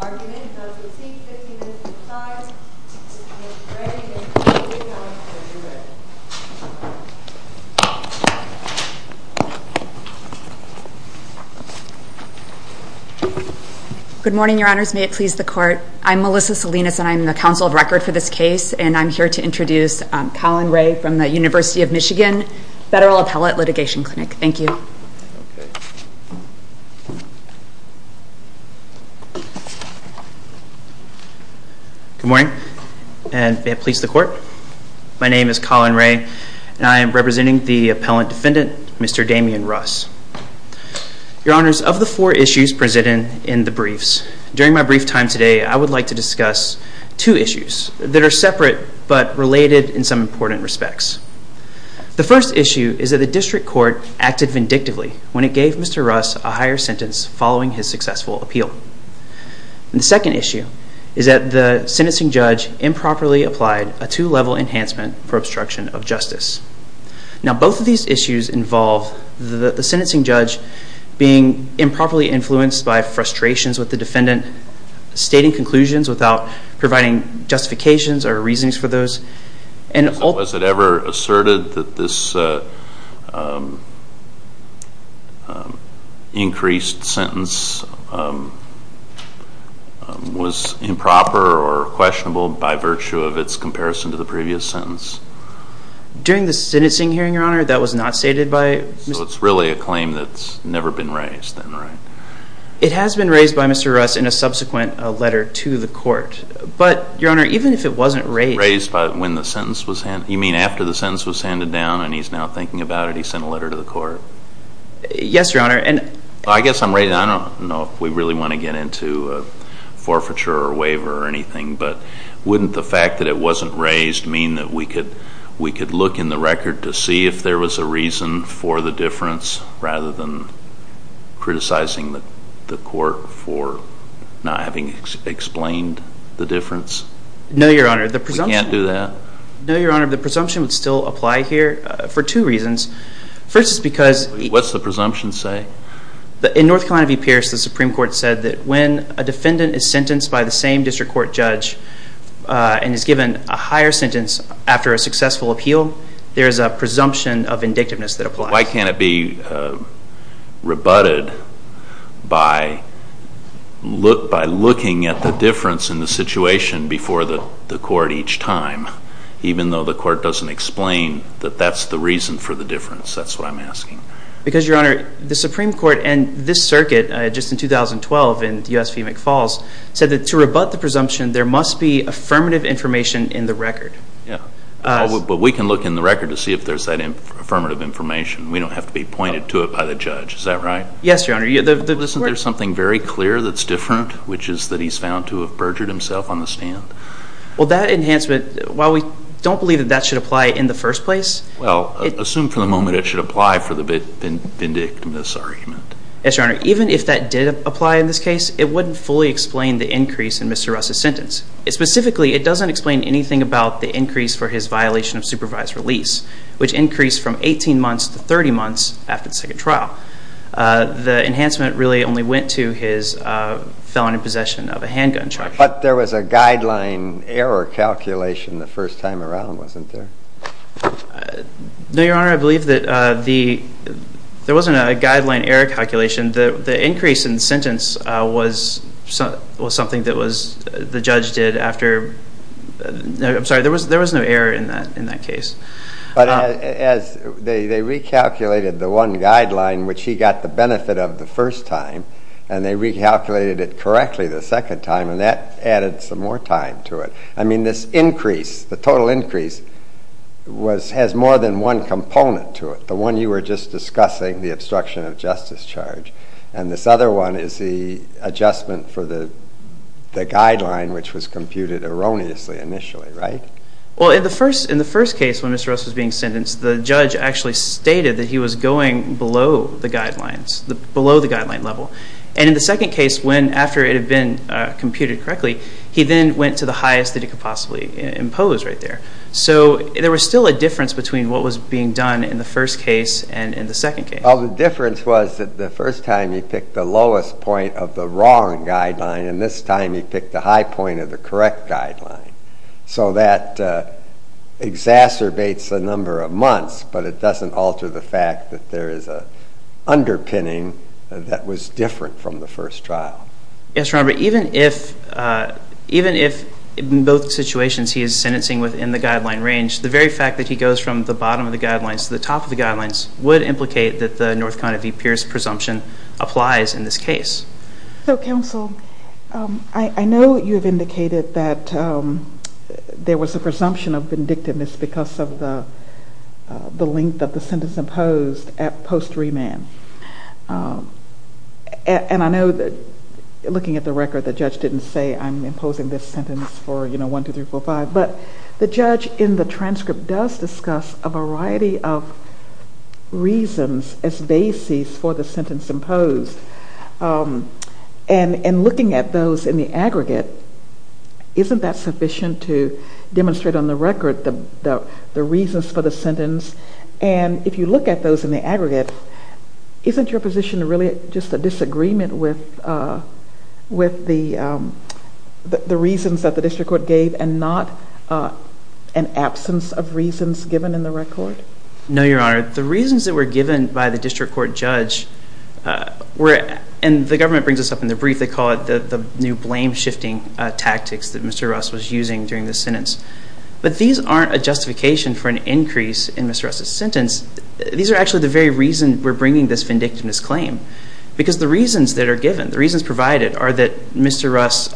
Argument is on receipt, 15 minutes to the side, Mr. Rennick and Mr. Johnson, you may be ready. Good morning, your honors, may it please the court. I'm Melissa Salinas and I'm the counsel of record for this case. And I'm here to introduce Colin Ray from the University of Michigan Federal Appellate Litigation Clinic. Thank you. Good morning, may it please the court. My name is Colin Ray and I am representing the appellate defendant, Mr. Damien Russ. Your honors, of the four issues presented in the briefs, during my brief time today I would like to discuss two issues that are separate but related in some important respects. The first issue is that the district court acted vindictively when it gave Mr. Russ a higher sentence following his successful appeal. The second issue is that the sentencing judge improperly applied a two-level enhancement for obstruction of justice. Now both of these issues involve the sentencing judge being improperly influenced by frustrations with the defendant stating conclusions without providing justifications or reasons for those. Was it ever asserted that this increased sentence was improper or questionable by virtue of its comparison to the previous sentence? During the sentencing hearing, your honor, that was not stated by... So it's really a claim that's never been raised then, right? It has been raised by Mr. Russ in a subsequent letter to the court. But, your honor, even if it wasn't raised... Raised by when the sentence was handed...you mean after the sentence was handed down and he's now thinking about it, he sent a letter to the court? Yes, your honor, and... I guess I'm ready. I don't know if we really want to get into forfeiture or waiver or anything, but wouldn't the fact that it wasn't raised mean that we could look in the record to see if there was a reason for the difference rather than criticizing the court for not having explained the difference? No, your honor, the presumption... We can't do that? No, your honor, the presumption would still apply here for two reasons. First is because... What's the presumption say? In North Carolina v. Pierce, the Supreme Court said that when a defendant is sentenced by the same district court judge and is given a higher sentence after a successful appeal, there is a presumption of indictiveness that applies. Why can't it be rebutted by looking at the difference in the situation before the court each time, even though the court doesn't explain that that's the reason for the difference? That's what I'm asking. Because, your honor, the Supreme Court and this circuit just in 2012 in U.S. v. McFalls said that to rebut the presumption, there must be affirmative information in the record. But we can look in the record to see if there's that affirmative information. We don't have to be pointed to it by the judge. Is that right? Yes, your honor. Listen, there's something very clear that's different, which is that he's found to have perjured himself on the stand. Well, that enhancement, while we don't believe that that should apply in the first place... Well, assume for the moment it should apply for the vindictiveness argument. Yes, your honor. Even if that did apply in this case, it wouldn't fully explain the increase in Mr. Russ's sentence. Specifically, it doesn't explain anything about the increase for his violation of supervised release, which increased from 18 months to 30 months after the second trial. The enhancement really only went to his felony possession of a handgun charge. But there was a guideline error calculation the first time around, wasn't there? No, your honor. I believe that there wasn't a guideline error calculation. The increase in sentence was something that the judge did after... I'm sorry, there was no error in that case. But they recalculated the one guideline, which he got the benefit of the first time, and they recalculated it correctly the second time, and that added some more time to it. I mean, this increase, the total increase, has more than one component to it. The one you were just discussing, the obstruction of justice charge, and this other one is the adjustment for the guideline, which was computed erroneously initially, right? Well, in the first case, when Mr. Russ was being sentenced, the judge actually stated that he was going below the guidelines, below the guideline level. And in the second case, after it had been computed correctly, he then went to the highest that he could possibly impose right there. So there was still a difference between what was being done in the first case and in the second case. Well, the difference was that the first time he picked the lowest point of the wrong guideline, and this time he picked the high point of the correct guideline. So that exacerbates the number of months, but it doesn't alter the fact that there is an underpinning that was different from the first trial. Yes, Your Honor, but even if in both situations he is sentencing within the guideline range, the very fact that he goes from the bottom of the guidelines to the top of the guidelines would implicate that the North Carolina v. Pierce presumption applies in this case. So, counsel, I know you have indicated that there was a presumption of vindictiveness because of the length of the sentence imposed at post remand. And I know that looking at the record, the judge didn't say, I'm imposing this sentence for, you know, one, two, three, four, five. But the judge in the transcript does discuss a variety of reasons as basis for the sentence imposed. And looking at those in the aggregate, isn't that sufficient to demonstrate on the record the reasons for the sentence? And if you look at those in the aggregate, isn't your position really just a disagreement with the reasons that the district court gave and not an absence of reasons given in the record? No, Your Honor. The reasons that were given by the district court judge were, and the government brings this up in the brief, they call it the new blame shifting tactics that Mr. Russ was using during the sentence. But these aren't a justification for an increase in Mr. Russ's sentence. These are actually the very reason we're bringing this vindictiveness claim. Because the reasons that are given, the reasons provided are that Mr. Russ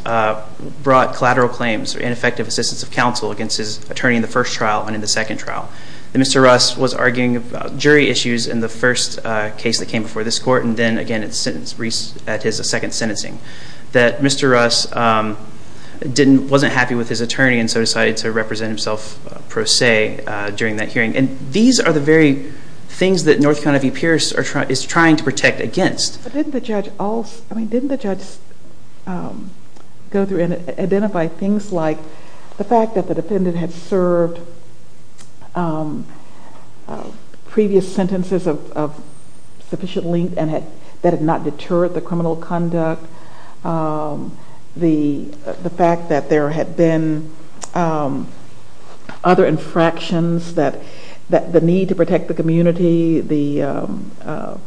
brought collateral claims and effective assistance of counsel against his attorney in the first trial and in the second trial. And Mr. Russ was arguing about jury issues in the first case that came before this court and then again at his second sentencing. That Mr. Russ wasn't happy with his attorney and so decided to represent himself pro se during that hearing. And these are the very things that North Carolina v. Pierce is trying to protect against. But didn't the judge also, I mean didn't the judge go through and identify things like the fact that the defendant had served previous sentences of sufficient length and that had not deterred the criminal conduct? The fact that there had been other infractions, the need to protect the community, the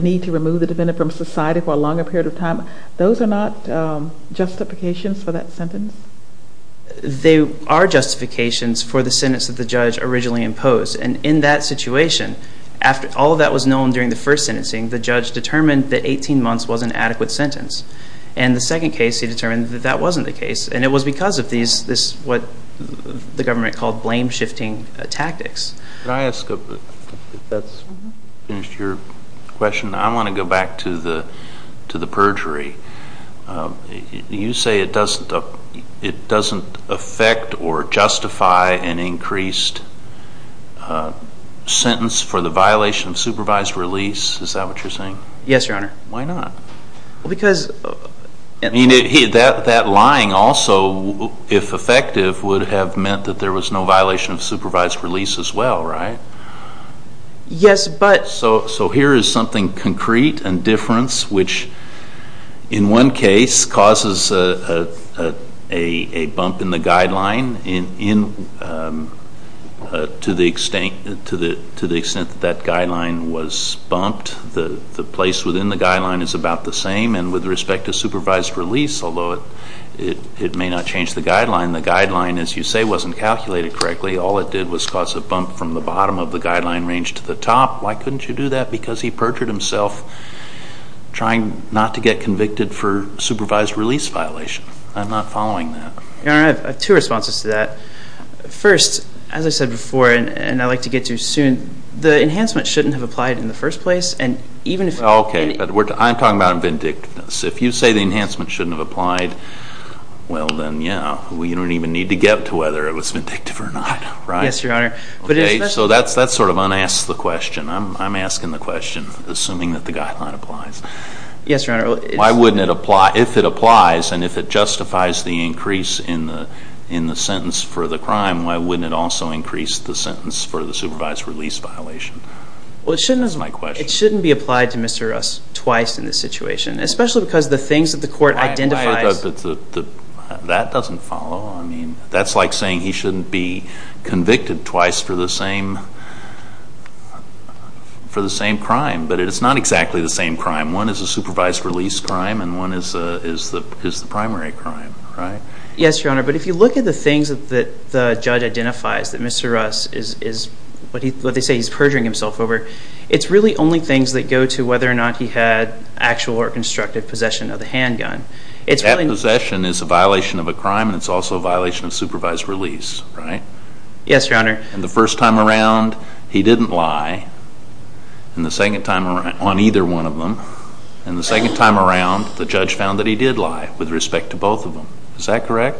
need to remove the defendant from society for a longer period of time, those are not justifications for that sentence? They are justifications for the sentence that the judge originally imposed. And in that situation, after all of that was known during the first sentencing, the judge determined that 18 months was an adequate sentence. And the second case he determined that that wasn't the case. And it was because of these, what the government called blame shifting tactics. Can I ask, if that's finished your question, I want to go back to the perjury. You say it doesn't affect or justify an increased sentence for the violation of supervised release? Is that what you're saying? Yes, Your Honor. Why not? Because... I mean that lying also, if effective, would have meant that there was no violation of supervised release as well, right? Yes, but... So here is something concrete and different, which in one case causes a bump in the guideline to the extent that that guideline was bumped. The place within the guideline is about the same, and with respect to supervised release, although it may not change the guideline, the guideline, as you say, wasn't calculated correctly. All it did was cause a bump from the bottom of the guideline range to the top. Why couldn't you do that? Because he perjured himself trying not to get convicted for supervised release violation. I'm not following that. Your Honor, I have two responses to that. First, as I said before, and I'd like to get to soon, the enhancement shouldn't have applied in the first place, and even if... Okay, but I'm talking about vindictiveness. If you say the enhancement shouldn't have applied, well then, yeah, you don't even need to get to whether it was vindictive or not, right? Yes, Your Honor. Okay, so that sort of un-asks the question. I'm asking the question, assuming that the guideline applies. Yes, Your Honor. Why wouldn't it apply? If it applies, and if it justifies the increase in the sentence for the crime, why wouldn't it also increase the sentence for the supervised release violation? Well, it shouldn't be applied to Mr. Russ twice in this situation, especially because the things that the court identifies... That doesn't follow. I mean, that's like saying he shouldn't be convicted twice for the same crime, but it's not exactly the same crime. One is a supervised release crime, and one is the primary crime, right? Yes, Your Honor, but if you look at the things that the judge identifies that Mr. Russ is, what they say he's perjuring himself over, it's really only things that go to whether or not he had actual or constructive possession of the handgun. That possession is a violation of a crime, and it's also a violation of supervised release, right? Yes, Your Honor. And the first time around, he didn't lie on either one of them. And the second time around, the judge found that he did lie with respect to both of them. Is that correct?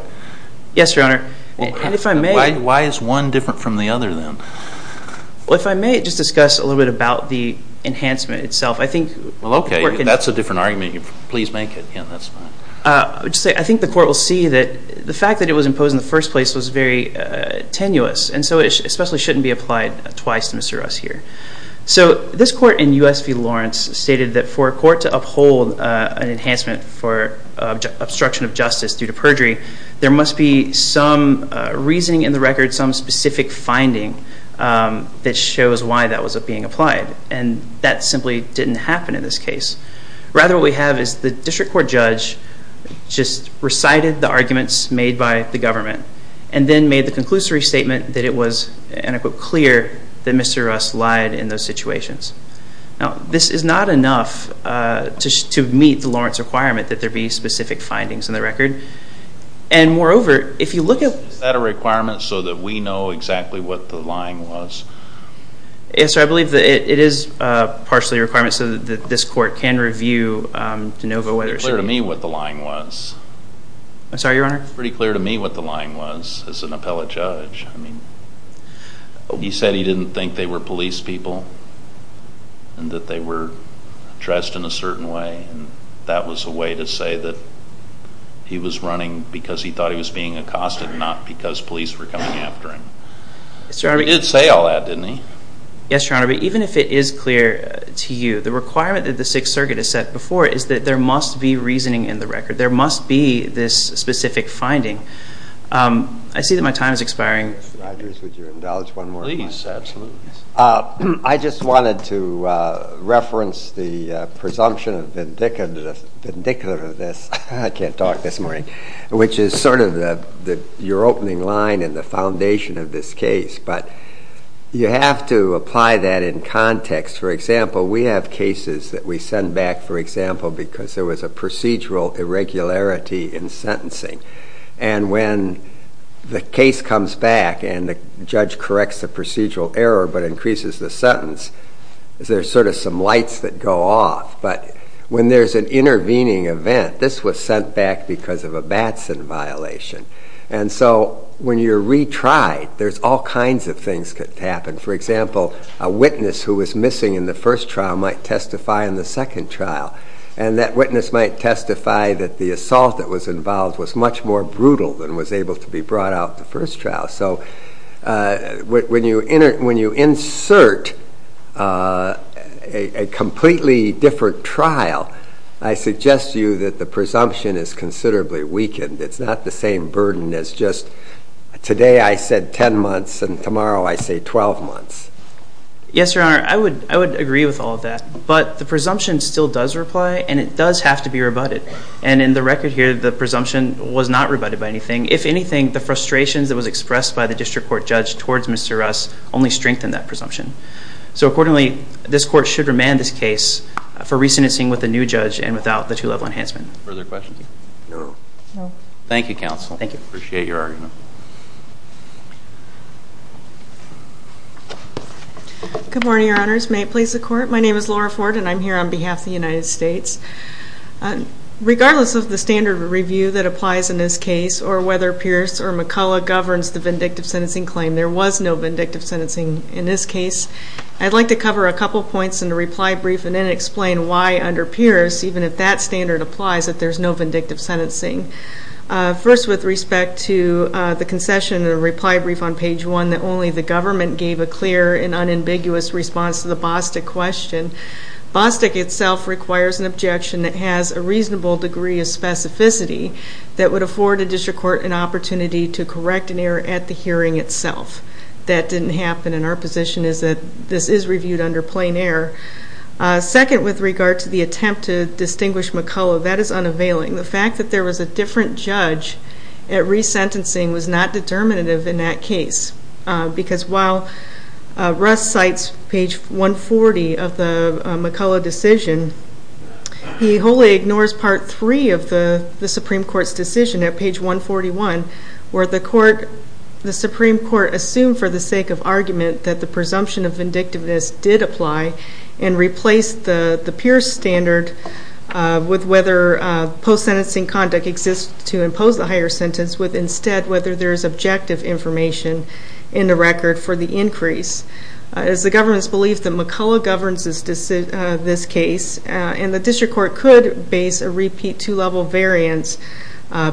Yes, Your Honor. And if I may... Why is one different from the other, then? Well, if I may just discuss a little bit about the enhancement itself. Well, okay. That's a different argument. Please make it. Yeah, that's fine. I think the court will see that the fact that it was imposed in the first place was very tenuous, and so it especially shouldn't be applied twice to Mr. Russ here. So this court in U.S. v. Lawrence stated that for a court to uphold an enhancement for obstruction of justice due to perjury, there must be some reasoning in the record, some specific finding that shows why that was being applied, and that simply didn't happen in this case. Rather, what we have is the district court judge just recited the arguments made by the government and then made the conclusory statement that it was, and I quote, clear that Mr. Russ lied in those situations. Now, this is not enough to meet the Lawrence requirement that there be specific findings in the record. And moreover, if you look at... Is that a requirement so that we know exactly what the lying was? Yes, sir. I believe that it is partially a requirement so that this court can review de novo whether it's... It's pretty clear to me what the lying was. I'm sorry, Your Honor? It's pretty clear to me what the lying was as an appellate judge. I mean, he said he didn't think they were police people and that they were dressed in a certain way, and that was a way to say that he was running because he thought he was being accosted, not because police were coming after him. He did say all that, didn't he? Yes, Your Honor, but even if it is clear to you, the requirement that the Sixth Circuit has set before is that there must be reasoning in the record. There must be this specific finding. I see that my time is expiring. Mr. Rogers, would you indulge one more minute? Please, absolutely. I just wanted to reference the presumption vindicative of this. I can't talk this morning, which is sort of your opening line and the foundation of this case, but you have to apply that in context. For example, we have cases that we send back, for example, because there was a procedural irregularity in sentencing, and when the case comes back and the judge corrects the procedural error but increases the sentence, there's sort of some lights that go off. But when there's an intervening event, this was sent back because of a Batson violation. And so when you retry, there's all kinds of things that could happen. For example, a witness who was missing in the first trial might testify in the second trial, and that witness might testify that the assault that was involved was much more brutal than was able to be brought out in the first trial. So when you insert a completely different trial, I suggest to you that the presumption is considerably weakened. It's not the same burden as just today I said 10 months and tomorrow I say 12 months. Yes, Your Honor, I would agree with all of that. But the presumption still does reply, and it does have to be rebutted. And in the record here, the presumption was not rebutted by anything. If anything, the frustrations that was expressed by the district court judge towards Mr. Russ only strengthened that presumption. So accordingly, this court should remand this case for re-sentencing with a new judge and without the two-level enhancement. Further questions? No. Thank you, Counsel. Thank you. Appreciate your argument. Good morning, Your Honors. May it please the Court. My name is Laura Ford, and I'm here on behalf of the United States. Regardless of the standard review that applies in this case or whether Pierce or McCullough governs the vindictive sentencing claim, there was no vindictive sentencing in this case. I'd like to cover a couple points in the reply brief and then explain why under Pierce, even if that standard applies, that there's no vindictive sentencing. First, with respect to the concession in the reply brief on page 1, that only the government gave a clear and unambiguous response to the Bostick question. Bostick itself requires an objection that has a reasonable degree of specificity that would afford a district court an opportunity to correct an error at the hearing itself. That didn't happen, and our position is that this is reviewed under plain error. Second, with regard to the attempt to distinguish McCullough, that is unavailing. The fact that there was a different judge at re-sentencing was not determinative in that case because while Russ cites page 140 of the McCullough decision, he wholly ignores part 3 of the Supreme Court's decision at page 141 where the Supreme Court assumed for the sake of argument that the presumption of vindictiveness did apply and replaced the Pierce standard with whether post-sentencing conduct exists to impose a higher sentence with instead whether there is objective information in the record for the increase. It is the government's belief that McCullough governs this case, and the district court could base a repeat two-level variance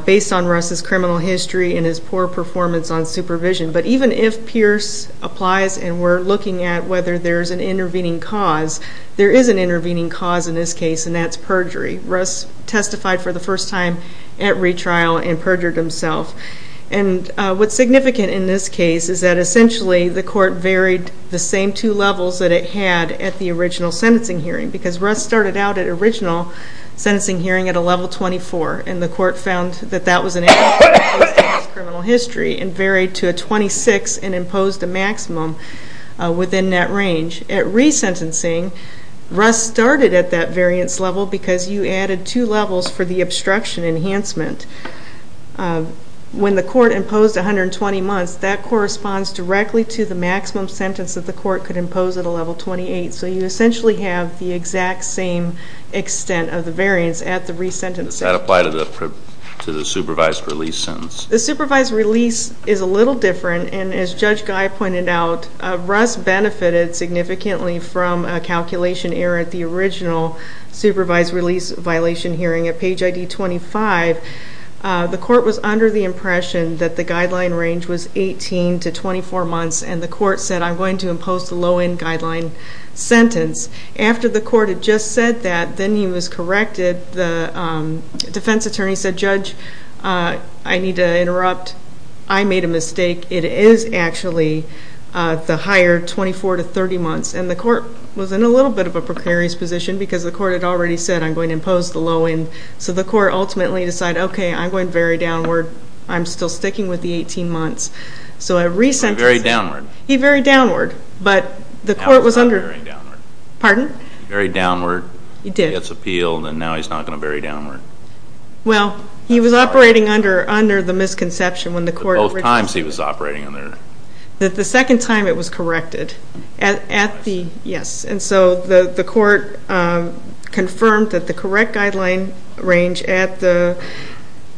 based on Russ' criminal history and his poor performance on supervision. But even if Pierce applies and we're looking at whether there's an intervening cause, there is an intervening cause in this case, and that's perjury. Russ testified for the first time at retrial and perjured himself. And what's significant in this case is that essentially the court varied the same two levels that it had at the original sentencing hearing because Russ started out at original sentencing hearing at a level 24, and the court found that that was an adequate place in his criminal history and varied to a 26 and imposed a maximum within that range. At resentencing, Russ started at that variance level because you added two levels for the obstruction enhancement. When the court imposed 120 months, that corresponds directly to the maximum sentence that the court could impose at a level 28. So you essentially have the exact same extent of the variance at the resentencing. Does that apply to the supervised release sentence? The supervised release is a little different, and as Judge Guy pointed out, Russ benefited significantly from a calculation error at the original supervised release violation hearing at page ID 25. The court was under the impression that the guideline range was 18 to 24 months, and the court said, I'm going to impose the low-end guideline sentence. After the court had just said that, then he was corrected. The defense attorney said, Judge, I need to interrupt. I made a mistake. It is actually the higher 24 to 30 months, and the court was in a little bit of a precarious position because the court had already said, I'm going to impose the low-end. So the court ultimately decided, okay, I'm going to vary downward. I'm still sticking with the 18 months. So I resentenced. He varied downward. He varied downward, but the court was under. Now he's not varying downward. Pardon? He varied downward. He did. He gets appealed, and now he's not going to vary downward. Well, he was operating under the misconception when the court. The first two times he was operating under. The second time it was corrected at the, yes. And so the court confirmed that the correct guideline range at the...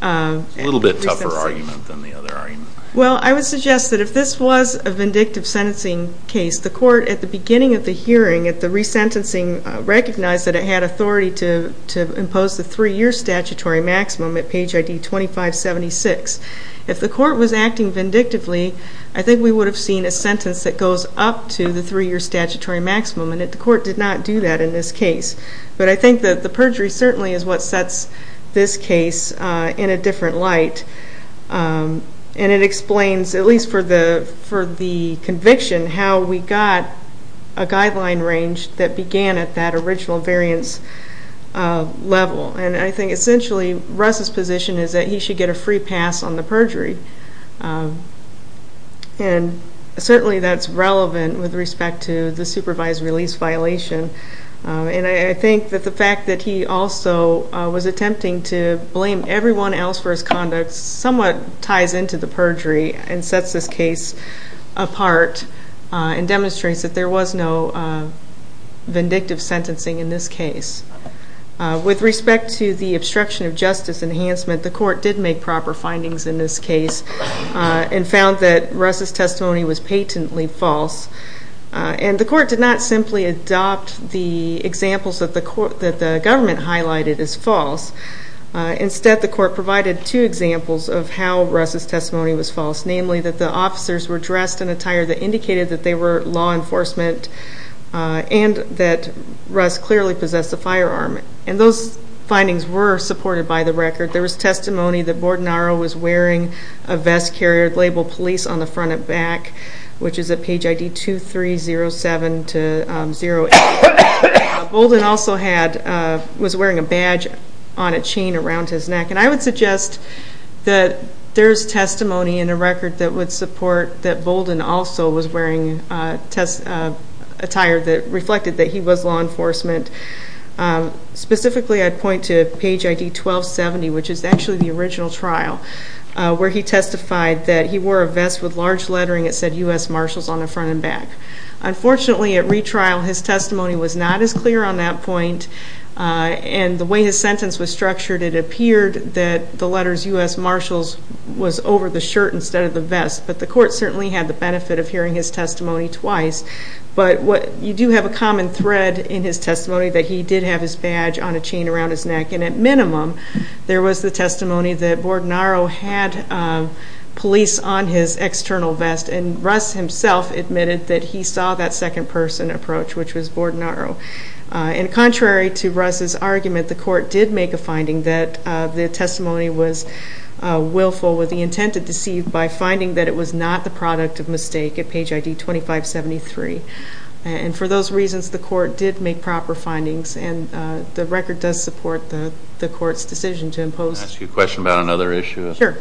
It's a little bit tougher argument than the other argument. Well, I would suggest that if this was a vindictive sentencing case, the court at the beginning of the hearing, at the resentencing, recognized that it had authority to impose the three-year statutory maximum at page ID 2576. If the court was acting vindictively, I think we would have seen a sentence that goes up to the three-year statutory maximum. And the court did not do that in this case. But I think that the perjury certainly is what sets this case in a different light. And it explains, at least for the conviction, how we got a guideline range that began at that original variance level. And I think essentially Russ's position is that he should get a free pass on the perjury. And certainly that's relevant with respect to the supervised release violation. And I think that the fact that he also was attempting to blame everyone else for his conduct somewhat ties into the perjury and sets this case apart and demonstrates that there was no vindictive sentencing in this case. With respect to the obstruction of justice enhancement, the court did make proper findings in this case and found that Russ's testimony was patently false. And the court did not simply adopt the examples that the government highlighted as false. Instead, the court provided two examples of how Russ's testimony was false, namely that the officers were dressed in attire that indicated that they were law enforcement and that Russ clearly possessed a firearm. And those findings were supported by the record. There was testimony that Bordenaro was wearing a vest carrier labeled police on the front and back, which is at page ID 2307-08. Bolden also was wearing a badge on a chain around his neck. And I would suggest that there's testimony in the record that would support that Bolden also was wearing attire that reflected that he was law enforcement. Specifically, I'd point to page ID 1270, which is actually the original trial, where he testified that he wore a vest with large lettering that said U.S. Marshals on the front and back. Unfortunately, at retrial, his testimony was not as clear on that point. And the way his sentence was structured, it appeared that the letters U.S. Marshals was over the shirt instead of the vest. But the court certainly had the benefit of hearing his testimony twice. But you do have a common thread in his testimony that he did have his badge on a chain around his neck. And at minimum, there was the testimony that Bordenaro had police on his external vest. And Russ himself admitted that he saw that second-person approach, which was Bordenaro. And contrary to Russ's argument, the court did make a finding that the testimony was willful with the intent to deceive by finding that it was not the product of mistake at page ID 2573. And for those reasons, the court did make proper findings. And the record does support the court's decision to impose. Can I ask you a question about another issue? Sure.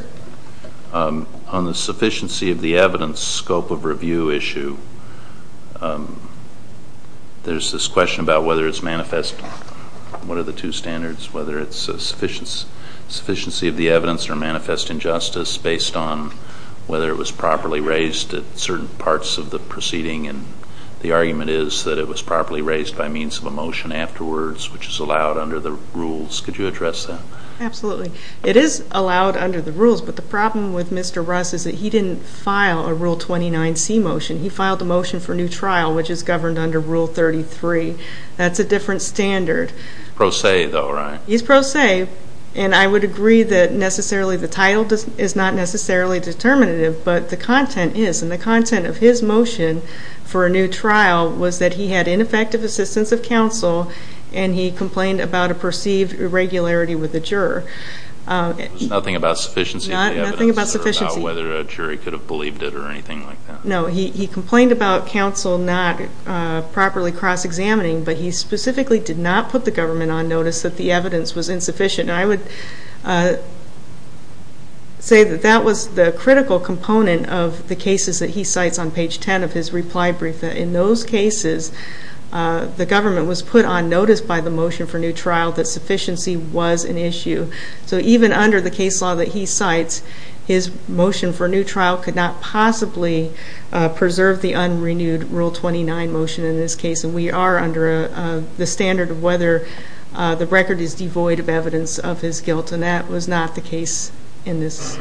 On the sufficiency of the evidence scope of review issue, there's this question about whether it's manifest. What are the two standards, whether it's a sufficiency of the evidence or manifest injustice, based on whether it was properly raised at certain parts of the proceeding? And the argument is that it was properly raised by means of a motion afterwards, which is allowed under the rules. Could you address that? Absolutely. It is allowed under the rules. But the problem with Mr. Russ is that he didn't file a Rule 29C motion. He filed a motion for new trial, which is governed under Rule 33. That's a different standard. Pro se, though, right? He's pro se. And I would agree that necessarily the title is not necessarily determinative, but the content is. And the content of his motion for a new trial was that he had ineffective assistance of counsel and he complained about a perceived irregularity with the juror. It was nothing about sufficiency of the evidence? Nothing about sufficiency. Or about whether a jury could have believed it or anything like that? No, he complained about counsel not properly cross-examining, but he specifically did not put the government on notice that the evidence was insufficient. And I would say that that was the critical component of the cases that he cites on page 10 of his reply brief, that in those cases the government was put on notice by the motion for new trial that sufficiency was an issue. So even under the case law that he cites, his motion for new trial could not possibly preserve the unrenewed Rule 29 motion in this case. And we are under the standard of whether the record is devoid of evidence of his guilt, and that was not the case in this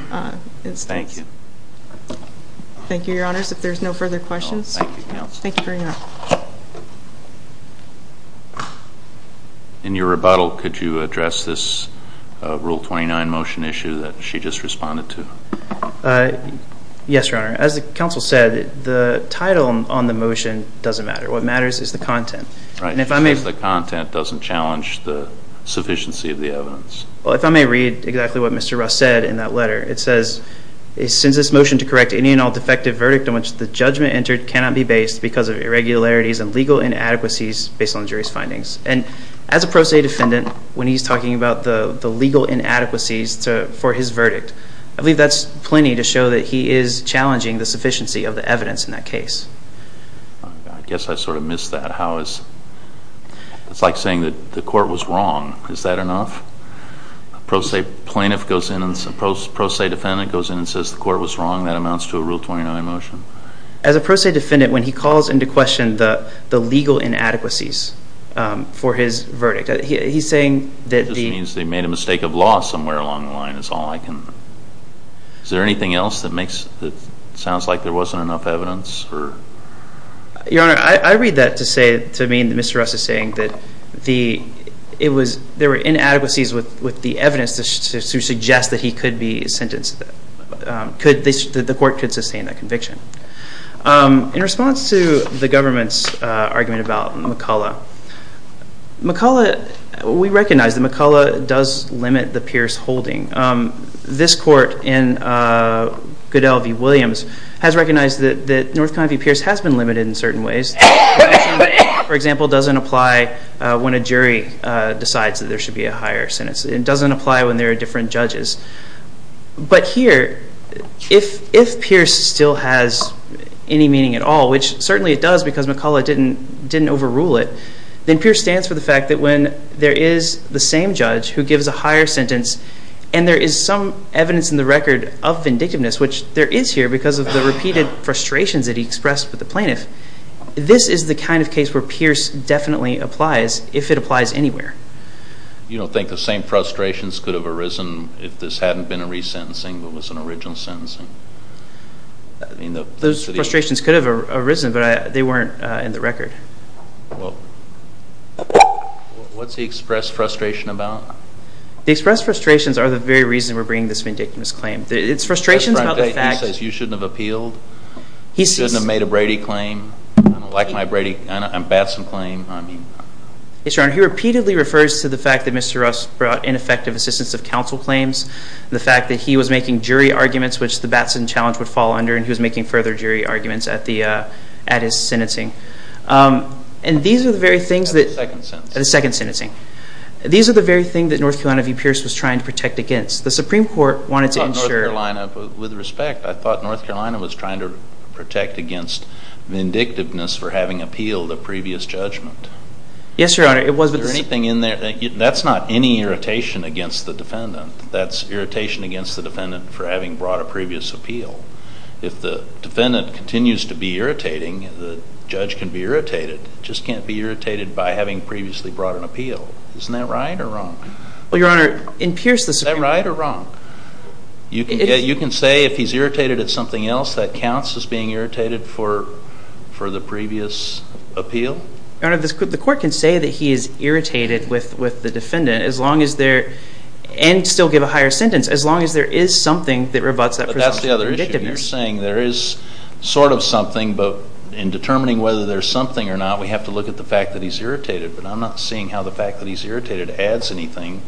instance. Thank you. Thank you, Your Honors. If there's no further questions. Thank you, Counsel. Thank you very much. In your rebuttal, could you address this Rule 29 motion issue that she just responded to? Yes, Your Honor. As the counsel said, the title on the motion doesn't matter. What matters is the content. Right. And if I may. The content doesn't challenge the sufficiency of the evidence. Well, if I may read exactly what Mr. Russ said in that letter. It says, Since this motion to correct any and all defective verdict in which the judgment entered cannot be based because of irregularities and legal inadequacies based on jury's findings. And as a pro se defendant, when he's talking about the legal inadequacies for his verdict, I believe that's plenty to show that he is challenging the sufficiency of the evidence in that case. I guess I sort of missed that. It's like saying that the court was wrong. Is that enough? A pro se defendant goes in and says the court was wrong. That amounts to a Rule 29 motion. As a pro se defendant, when he calls into question the legal inadequacies for his verdict, he's saying that the It just means they made a mistake of law somewhere along the line is all I can. Is there anything else that sounds like there wasn't enough evidence? Your Honor, I read that to mean that Mr. Russ is saying that there were inadequacies with the evidence to suggest that he could be sentenced, that the court could sustain that conviction. In response to the government's argument about McCullough, we recognize that McCullough does limit the Pierce holding. This court in Goodell v. Williams has recognized that North Carolina v. Pierce has been limited in certain ways. For example, it doesn't apply when a jury decides that there should be a higher sentence. It doesn't apply when there are different judges. But here, if Pierce still has any meaning at all, which certainly it does because McCullough didn't overrule it, then Pierce stands for the fact that when there is the same judge who gives a higher sentence and there is some evidence in the record of vindictiveness, which there is here because of the repeated frustrations that he expressed with the plaintiff, this is the kind of case where Pierce definitely applies if it applies anywhere. You don't think the same frustrations could have arisen if this hadn't been a resentencing but was an original sentencing? Those frustrations could have arisen, but they weren't in the record. Well, what's the expressed frustration about? The expressed frustrations are the very reason we're bringing this vindictiveness claim. It's frustrations about the facts. He says you shouldn't have appealed, you shouldn't have made a Brady claim, like my Batson claim. Yes, Your Honor. He repeatedly refers to the fact that Mr. Ross brought ineffective assistance of counsel claims, the fact that he was making jury arguments, which the Batson challenge would fall under, and he was making further jury arguments at his sentencing. And these are the very things that... At the second sentencing. At the second sentencing. These are the very things that North Carolina v. Pierce was trying to protect against. The Supreme Court wanted to ensure... I thought North Carolina, with respect, I thought North Carolina was trying to protect against vindictiveness for having appealed a previous judgment. Yes, Your Honor. Is there anything in there? That's not any irritation against the defendant. That's irritation against the defendant for having brought a previous appeal. If the defendant continues to be irritating, the judge can be irritated. It just can't be irritated by having previously brought an appeal. Isn't that right or wrong? Well, Your Honor, in Pierce's... Is that right or wrong? You can say if he's irritated at something else, that counts as being irritated for the previous appeal? Your Honor, the court can say that he is irritated with the defendant, and still give a higher sentence, as long as there is something that rebutts that presumption of vindictiveness. But that's the other issue. You're saying there is sort of something, but in determining whether there's something or not, we have to look at the fact that he's irritated. But I'm not seeing how the fact that he's irritated adds anything,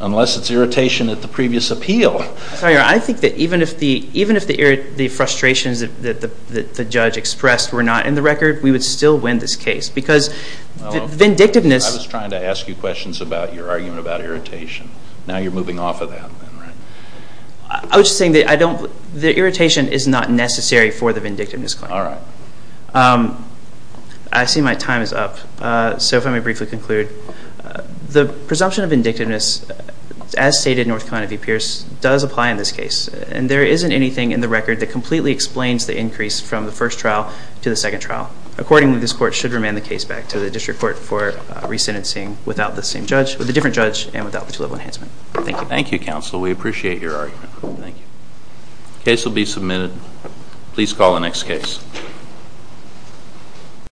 unless it's irritation at the previous appeal. Sorry, Your Honor. I think that even if the frustrations that the judge expressed were not in the record, we would still win this case because vindictiveness... I was trying to ask you questions about your argument about irritation. Now you're moving off of that. I was just saying that the irritation is not necessary for the vindictiveness claim. All right. I see my time is up, so if I may briefly conclude. The presumption of vindictiveness, as stated in North Carolina v. Pierce, does apply in this case. And there isn't anything in the record that completely explains the increase from the first trial to the second trial. Accordingly, this court should remand the case back to the district court for resentencing without the different judge and without the two-level enhancement. Thank you. Thank you, counsel. We appreciate your argument. Thank you. The case will be submitted. Please call the next case.